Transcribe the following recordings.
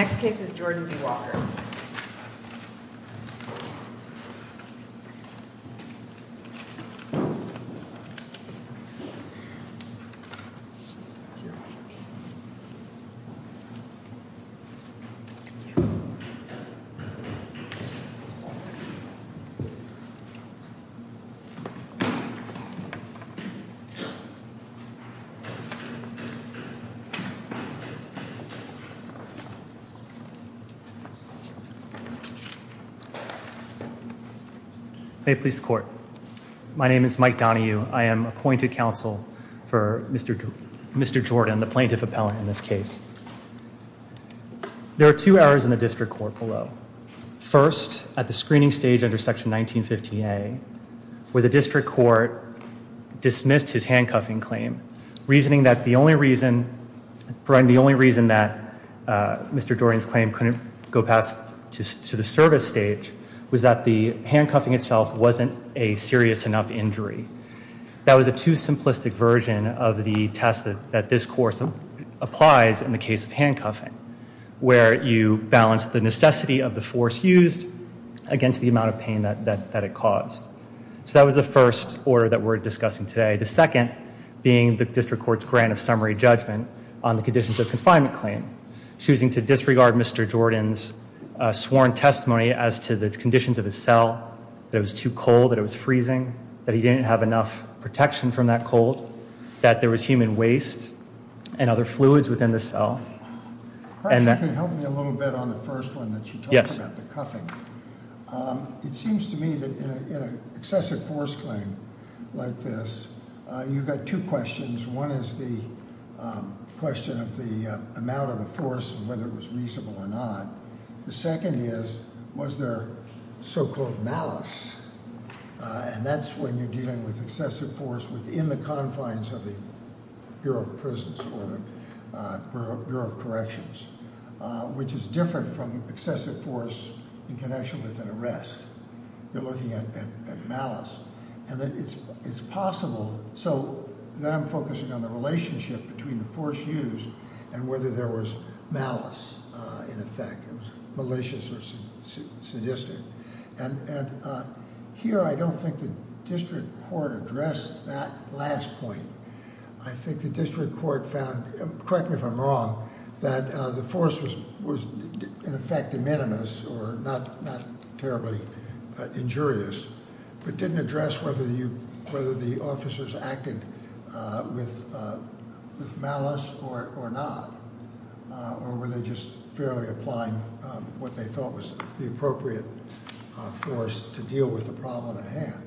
Next case is Jordan B. Walker. My name is Mike Donahue. I am appointed counsel for Mr. Mr Jordan, the plaintiff appellant in this case. There are two hours in the district court below first at the screening stage under section 19 50 A. Where the district court dismissed his handcuffing claim reasoning that the only reason. Brian, the only reason that Mr Jordan's claim couldn't go past to the service stage was that the handcuffing itself wasn't a serious enough injury. That was a too simplistic version of the test that this course applies in the case of handcuffing. Where you balance the necessity of the force used against the amount of pain that it caused. So that was the first order that we're discussing today. The second being the district court's grant of summary judgment on the conditions of confinement claim. Choosing to disregard Mr Jordan's sworn testimony as to the conditions of his cell. That it was too cold, that it was freezing, that he didn't have enough protection from that cold. That there was human waste and other fluids within the cell. Perhaps you could help me a little bit on the first one that you talked about, the cuffing. It seems to me that in an excessive force claim like this, you've got two questions. One is the question of the amount of the force and whether it was reasonable or not. The second is, was there so-called malice? And that's when you're dealing with excessive force within the confines of the Bureau of Prisons or the Bureau of Corrections. Which is different from excessive force in connection with an arrest. You're looking at malice. And it's possible, so then I'm focusing on the relationship between the force used and whether there was malice in effect. It was malicious or sadistic. And here I don't think the district court addressed that last point. I think the district court found, correct me if I'm wrong, that the force was in effect de minimis or not terribly injurious. But didn't address whether the officers acted with malice or not. Or were they just fairly applying what they thought was the appropriate force to deal with the problem at hand.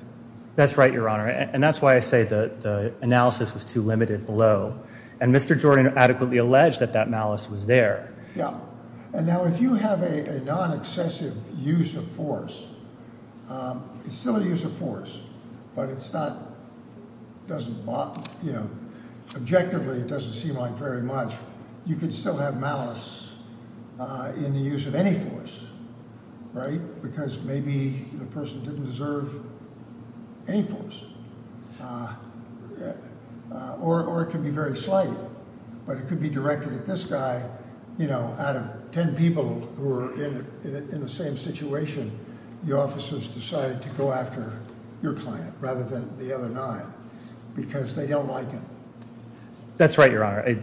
That's right, Your Honor. And that's why I say the analysis was too limited below. And Mr. Jordan adequately alleged that that malice was there. Yeah. And now if you have a non-excessive use of force, it's still a use of force. But it's not, doesn't, you know, objectively it doesn't seem like very much. You could still have malice in the use of any force. Right? Because maybe the person didn't deserve any force. Or it could be very slight. But it could be directed at this guy, you know, out of ten people who are in the same situation. The officers decided to go after your client rather than the other nine. Because they don't like him. That's right, Your Honor.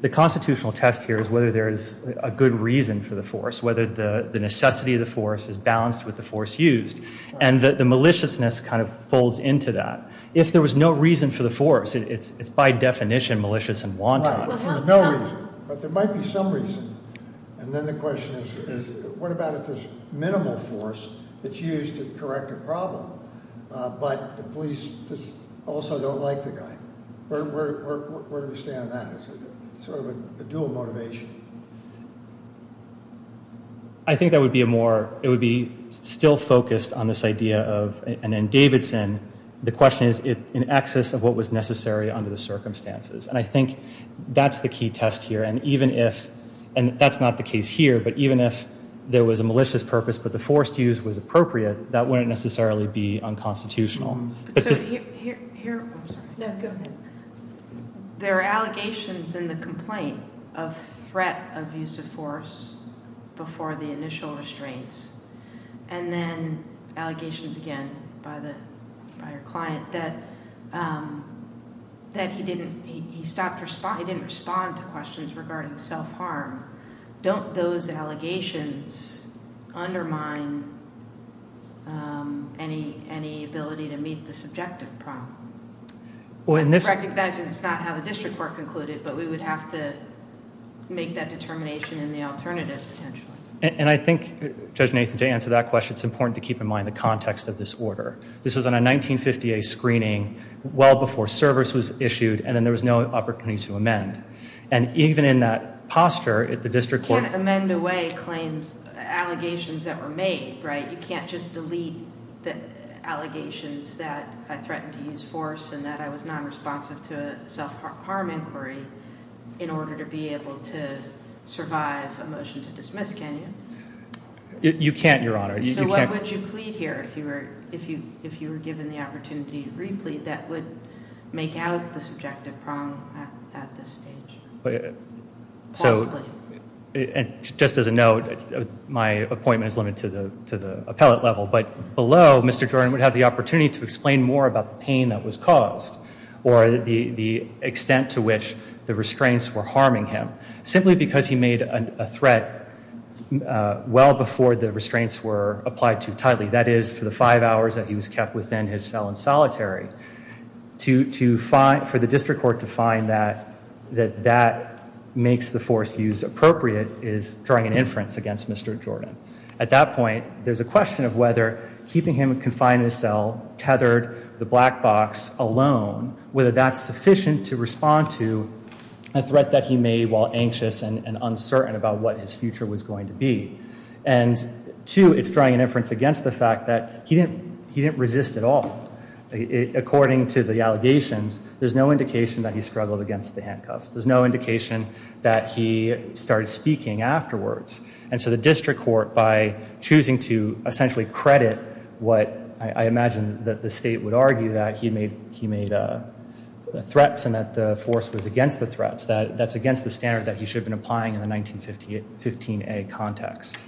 The constitutional test here is whether there's a good reason for the force. Whether the necessity of the force is balanced with the force used. And the maliciousness kind of folds into that. If there was no reason for the force, it's by definition malicious and wanton. If there's no reason. But there might be some reason. And then the question is what about if there's minimal force that's used to correct a problem. But the police just also don't like the guy. Where do we stand on that? It's sort of a dual motivation. I think that would be a more, it would be still focused on this idea of, and in Davidson, the question is in access of what was necessary under the circumstances. And I think that's the key test here. And even if, and that's not the case here. But even if there was a malicious purpose but the force used was appropriate, that wouldn't necessarily be unconstitutional. So here, I'm sorry. No, go ahead. There are allegations in the complaint of threat of use of force before the initial restraints. And then allegations again by the client that he didn't, he stopped, he didn't respond to questions regarding self-harm. Don't those allegations undermine any ability to meet the subjective problem? Recognizing it's not how the district court concluded, but we would have to make that determination in the alternative, potentially. And I think, Judge Nathan, to answer that question, it's important to keep in mind the context of this order. This was on a 1958 screening, well before service was issued, and then there was no opportunity to amend. And even in that posture, the district court- Can't amend away claims, allegations that were made, right? You can't just delete the allegations that I threatened to use force and that I was non-responsive to a self-harm inquiry in order to be able to survive a motion to dismiss, can you? You can't, Your Honor. So what would you plead here if you were given the opportunity to re-plead that would make out the subjective problem at this stage? So, just as a note, my appointment is limited to the appellate level, but below, Mr. Jordan would have the opportunity to explain more about the pain that was caused, or the extent to which the restraints were harming him, simply because he made a threat well before the restraints were applied too tightly. That is, for the five hours that he was kept within his cell in solitary. For the district court to find that that makes the force use appropriate is drawing an inference against Mr. Jordan. At that point, there's a question of whether keeping him confined in his cell, tethered, the black box, alone, whether that's sufficient to respond to a threat that he made while anxious and uncertain about what his future was going to be. And two, it's drawing an inference against the fact that he didn't resist at all. According to the allegations, there's no indication that he struggled against the handcuffs. There's no indication that he started speaking afterwards. And so the district court, by choosing to essentially credit what I imagine that the state would argue, that he made threats and that the force was against the threats, that's against the standard that he should have been applying in the 1915-A context.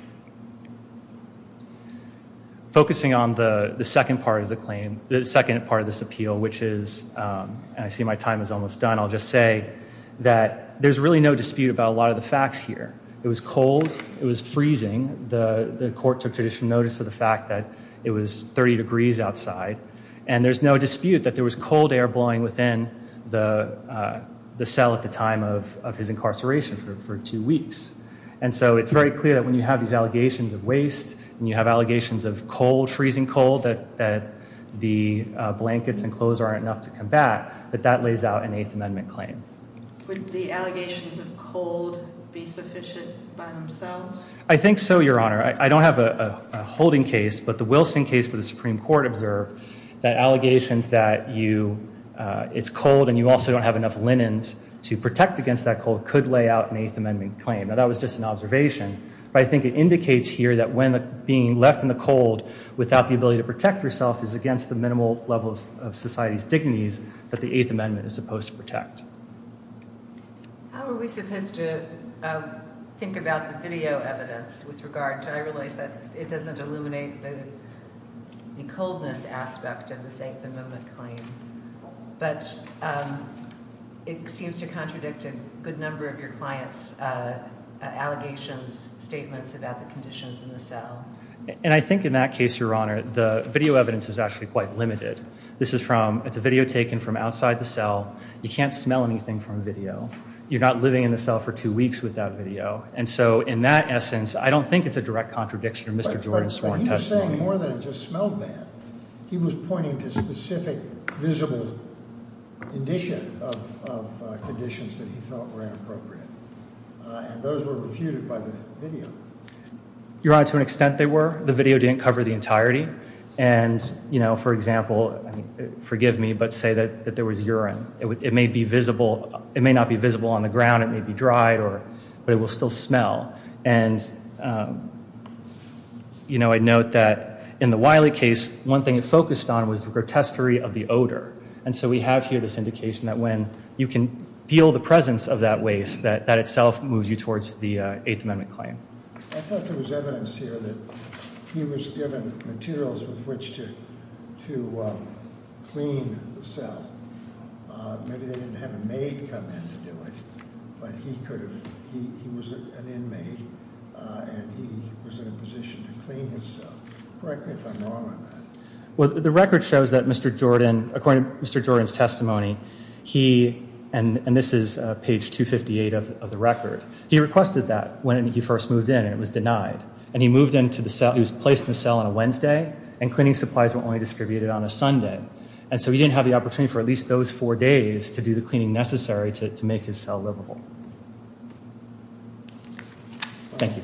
Focusing on the second part of this appeal, which is, and I see my time is almost done, I'll just say that there's really no dispute about a lot of the facts here. It was cold. It was freezing. The court took traditional notice of the fact that it was 30 degrees outside. And there's no dispute that there was cold air blowing within the cell at the time of his incarceration for two weeks. And so it's very clear that when you have these allegations of waste and you have allegations of cold, freezing cold, that the blankets and clothes aren't enough to combat, that that lays out an Eighth Amendment claim. Would the allegations of cold be sufficient by themselves? I think so, Your Honor. I don't have a holding case, but the Wilson case for the Supreme Court observed that allegations that it's cold and you also don't have enough linens to protect against that cold could lay out an Eighth Amendment claim. Now, that was just an observation. But I think it indicates here that when being left in the cold without the ability to protect yourself is against the minimal level of society's dignities that the Eighth Amendment is supposed to protect. How are we supposed to think about the video evidence with regard to, I realize that it doesn't illuminate the coldness aspect of this Eighth Amendment claim, but it seems to contradict a good number of your client's allegations, statements about the conditions in the cell. And I think in that case, Your Honor, the video evidence is actually quite limited. This is from, it's a video taken from outside the cell. You can't smell anything from video. You're not living in the cell for two weeks without video. And so in that essence, I don't think it's a direct contradiction of Mr. Jordan's sworn testimony. He was saying more than it just smelled bad. He was pointing to specific visible condition of conditions that he felt were inappropriate. And those were refuted by the video. Your Honor, to an extent they were. The video didn't cover the entirety. And, you know, for example, forgive me, but say that there was urine. It may be visible. It may not be visible on the ground. It may be dried. But it will still smell. And, you know, I note that in the Wiley case, one thing it focused on was the grotesquery of the odor. And so we have here this indication that when you can feel the presence of that waste, that that itself moves you towards the Eighth Amendment claim. I thought there was evidence here that he was given materials with which to clean the cell. Maybe they didn't have a maid come in to do it. But he could have. He was an inmate, and he was in a position to clean his cell. Correct me if I'm wrong on that. Well, the record shows that Mr. Jordan, according to Mr. Jordan's testimony, he, and this is page 258 of the record, he requested that when he first moved in, and it was denied. And he moved into the cell. He was placed in the cell on a Wednesday, and cleaning supplies were only distributed on a Sunday. And so he didn't have the opportunity for at least those four days to do the cleaning necessary to make his cell livable. Thank you.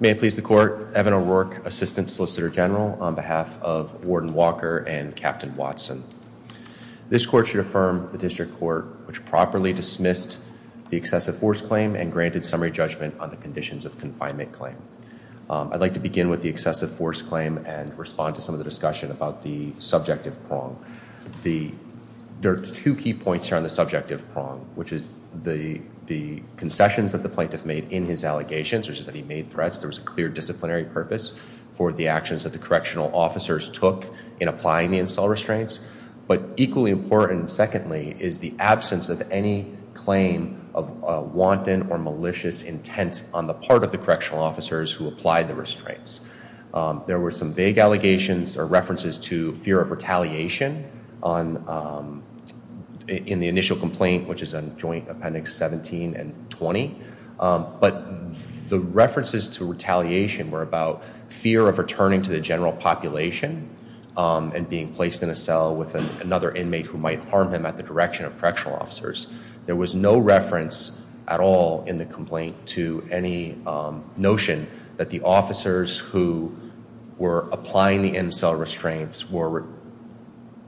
May it please the Court. Evan O'Rourke, Assistant Solicitor General, on behalf of Warden Walker and Captain Watson. This court should affirm the district court which properly dismissed the excessive force claim and granted summary judgment on the conditions of confinement claim. I'd like to begin with the excessive force claim and respond to some of the discussion about the subjective prong. There are two key points here on the subjective prong, which is the concessions that the plaintiff made in his allegations, which is that he made threats. There was a clear disciplinary purpose for the actions that the correctional officers took in applying the install restraints. But equally important, secondly, is the absence of any claim of wanton or malicious intent on the part of the correctional officers who applied the restraints. There were some vague allegations or references to fear of retaliation in the initial complaint, which is on Joint Appendix 17 and 20. But the references to retaliation were about fear of returning to the general population and being placed in a cell with another inmate who might harm him at the direction of correctional officers. There was no reference at all in the complaint to any notion that the officers who were applying the in-cell restraints were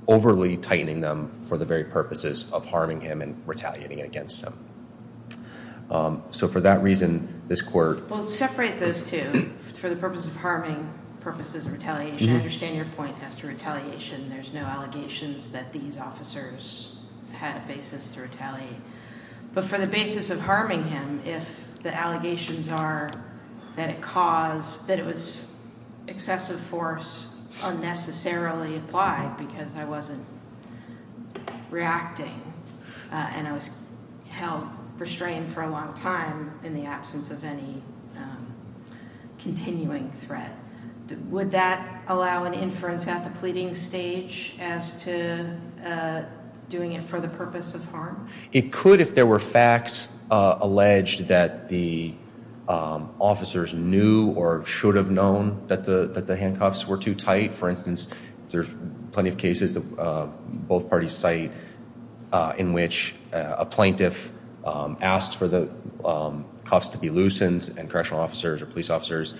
overly tightening them for the very purposes of harming him and retaliating against him. So for that reason, this court— Well, separate those two. For the purpose of harming, the purpose is retaliation. I understand your point as to retaliation. There's no allegations that these officers had a basis to retaliate. But for the basis of harming him, if the allegations are that it was excessive force unnecessarily applied because I wasn't reacting and I was held restrained for a long time in the absence of any continuing threat, would that allow an inference at the pleading stage as to doing it for the purpose of harm? It could if there were facts alleged that the officers knew or should have known that the handcuffs were too tight. For instance, there's plenty of cases, both parties cite, in which a plaintiff asked for the cuffs to be loosened and correctional officers or police officers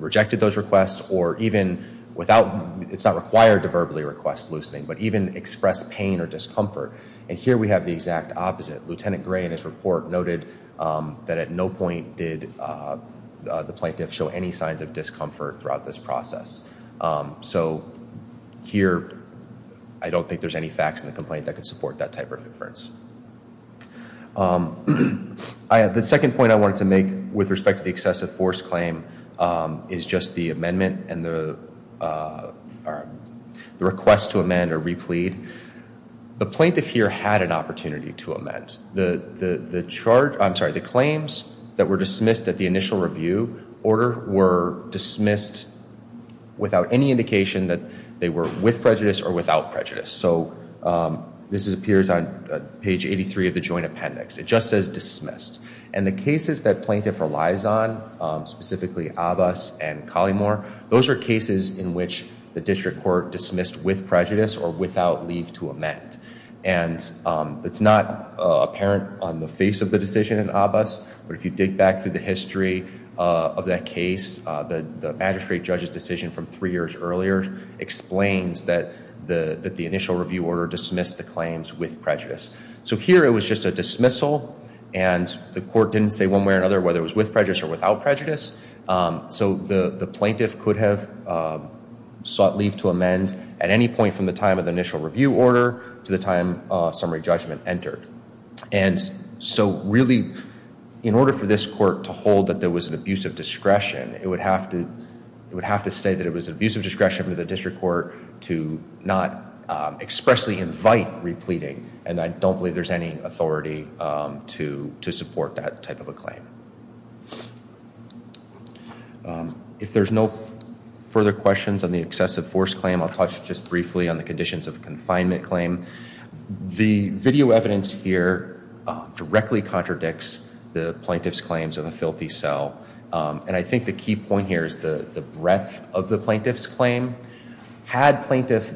rejected those requests or even without— it's not required to verbally request loosening, but even express pain or discomfort. And here we have the exact opposite. Lieutenant Gray in his report noted that at no point did the plaintiff show any signs of discomfort throughout this process. So here, I don't think there's any facts in the complaint that could support that type of inference. The second point I wanted to make with respect to the excessive force claim is just the amendment and the request to amend or replead. The plaintiff here had an opportunity to amend. The charge—I'm sorry, the claims that were dismissed at the initial review order were dismissed without any indication that they were with prejudice or without prejudice. So this appears on page 83 of the joint appendix. It just says dismissed. And the cases that plaintiff relies on, specifically Abbas and Collymore, those are cases in which the district court dismissed with prejudice or without leave to amend. And it's not apparent on the face of the decision in Abbas, but if you dig back through the history of that case, the magistrate judge's decision from three years earlier explains that the initial review order dismissed the claims with prejudice. So here it was just a dismissal, and the court didn't say one way or another whether it was with prejudice or without prejudice. So the plaintiff could have sought leave to amend at any point from the time of the initial review order to the time summary judgment entered. And so really, in order for this court to hold that there was an abuse of discretion, it would have to say that it was an abuse of discretion for the district court to not expressly invite repleting. And I don't believe there's any authority to support that type of a claim. If there's no further questions on the excessive force claim, I'll touch just briefly on the conditions of confinement claim. The video evidence here directly contradicts the plaintiff's claims of a filthy cell. And I think the key point here is the breadth of the plaintiff's claim. Had plaintiff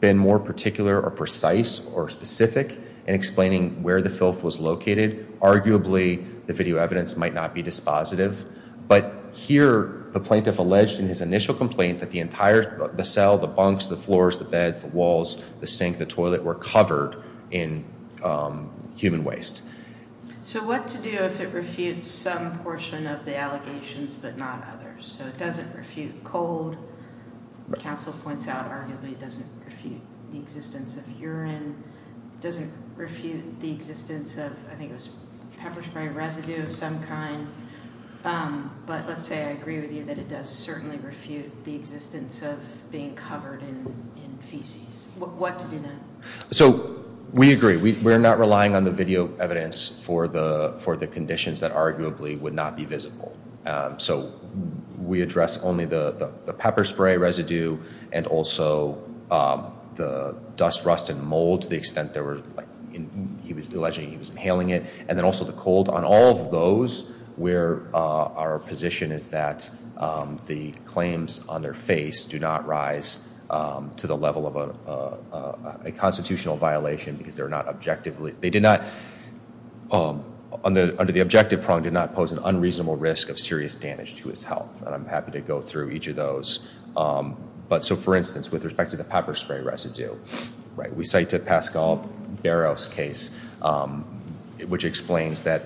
been more particular or precise or specific in explaining where the filth was located, arguably the video evidence might not be dispositive. But here the plaintiff alleged in his initial complaint that the entire cell, the bunks, the floors, the beds, the walls, the sink, the toilet were covered in human waste. So what to do if it refutes some portion of the allegations but not others? So it doesn't refute cold. The counsel points out arguably it doesn't refute the existence of urine. It doesn't refute the existence of, I think it was pepper spray residue of some kind. But let's say I agree with you that it does certainly refute the existence of being covered in feces. What to do then? So we agree. We're not relying on the video evidence for the conditions that arguably would not be visible. So we address only the pepper spray residue and also the dust, rust, and mold to the extent there were, he was alleging he was inhaling it. And then also the cold. On all of those where our position is that the claims on their face do not rise to the level of a constitutional violation because they're not objectively, they did not, under the objective prong, did not pose an unreasonable risk of serious damage to his health. And I'm happy to go through each of those. But so for instance, with respect to the pepper spray residue. We say to Pascal Barrow's case, which explains that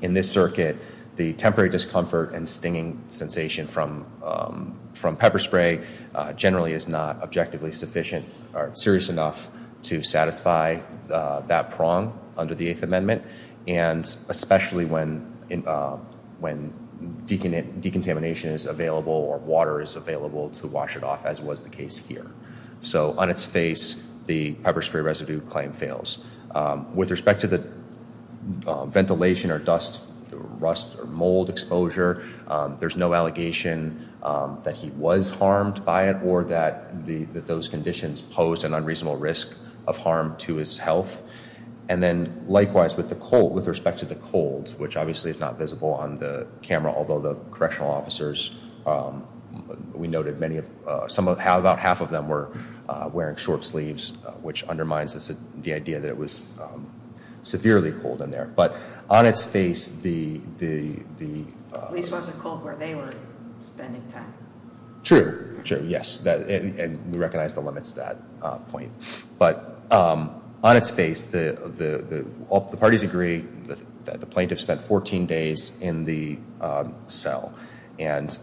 in this circuit, the temporary discomfort and stinging sensation from pepper spray generally is not objectively sufficient or serious enough to satisfy that prong under the Eighth Amendment. And especially when decontamination is available or water is available to wash it off, as was the case here. So on its face, the pepper spray residue claim fails. With respect to the ventilation or dust, rust, or mold exposure, there's no allegation that he was harmed by it or that those conditions posed an unreasonable risk of harm to his health. And then likewise, with respect to the cold, which obviously is not visible on the camera, although the correctional officers, we noted about half of them were wearing short sleeves, which undermines the idea that it was severely cold in there. But on its face, the... At least it wasn't cold where they were spending time. True. Yes. And we recognize the limits to that point. But on its face, the parties agree that the plaintiff spent 14 days in the cell. And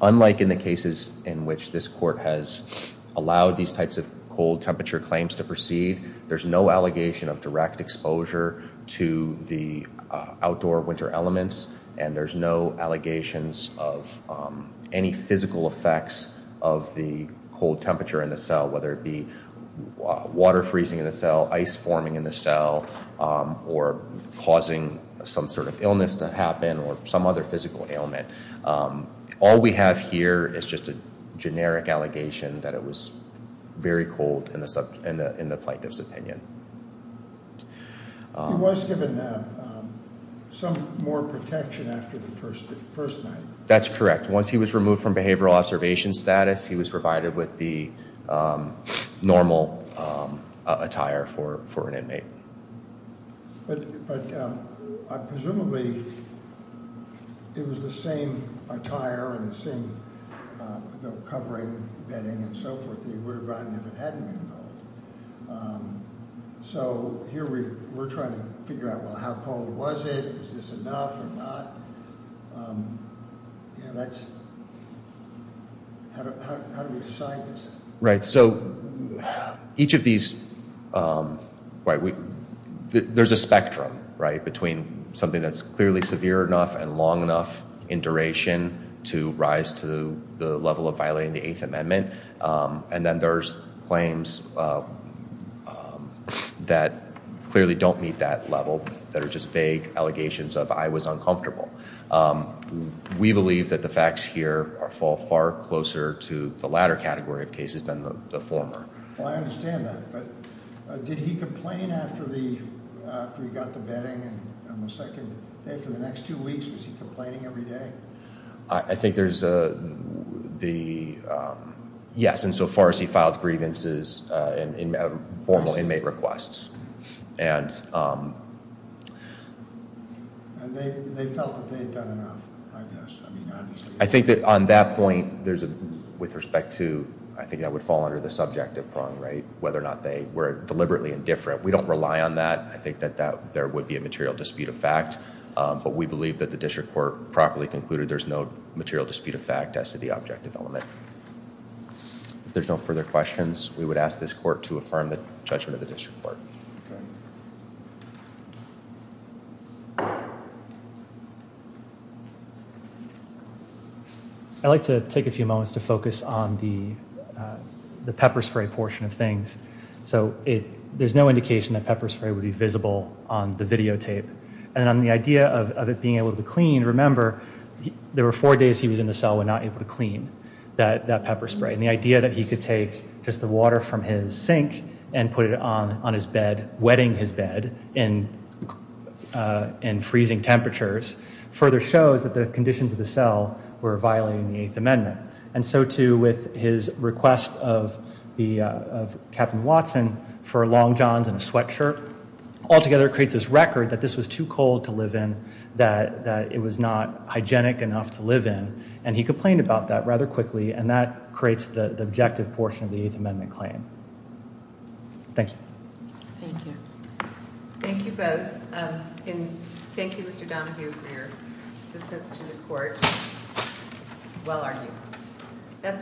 unlike in the cases in which this court has allowed these types of cold temperature claims to proceed, there's no allegation of direct exposure to the outdoor winter elements, and there's no allegations of any physical effects of the cold temperature in the cell, whether it be water freezing in the cell, ice forming in the cell, or causing some sort of illness to happen or some other physical ailment. All we have here is just a generic allegation that it was very cold in the plaintiff's opinion. He was given some more protection after the first night. That's correct. Once he was removed from behavioral observation status, he was provided with the normal attire for an inmate. But presumably, it was the same attire and the same covering, bedding, and so forth, that he would have gotten if it hadn't been cold. So here we're trying to figure out, well, how cold was it? Is this enough or not? You know, that's – how do we decide this? Right. So each of these – there's a spectrum, right, between something that's clearly severe enough and long enough in duration to rise to the level of violating the Eighth Amendment. And then there's claims that clearly don't meet that level that are just vague allegations of I was uncomfortable. We believe that the facts here fall far closer to the latter category of cases than the former. Well, I understand that. But did he complain after he got the bedding on the second day? For the next two weeks, was he complaining every day? I think there's the – yes, insofar as he filed grievances and formal inmate requests. And they felt that they had done enough, I guess. I mean, obviously. I think that on that point, there's a – with respect to – I think that would fall under the subjective prong, right, whether or not they were deliberately indifferent. We don't rely on that. I think that there would be a material dispute of fact. But we believe that the district court properly concluded there's no material dispute of fact as to the objective element. If there's no further questions, we would ask this court to affirm the judgment of the district court. I'd like to take a few moments to focus on the pepper spray portion of things. So there's no indication that pepper spray would be visible on the videotape. And on the idea of it being able to be cleaned, remember, there were four days he was in the cell when not able to clean that pepper spray. And the idea that he could take just the water from his sink and put it on his bed, wetting his bed in freezing temperatures, further shows that the conditions of the cell were violating the Eighth Amendment. And so, too, with his request of Captain Watson for long johns and a sweatshirt, altogether creates this record that this was too cold to live in, that it was not hygienic enough to live in. And he complained about that rather quickly. And that creates the objective portion of the Eighth Amendment claim. Thank you. Thank you. Thank you both. And thank you, Mr. Donahue, for your assistance to the court. Well argued.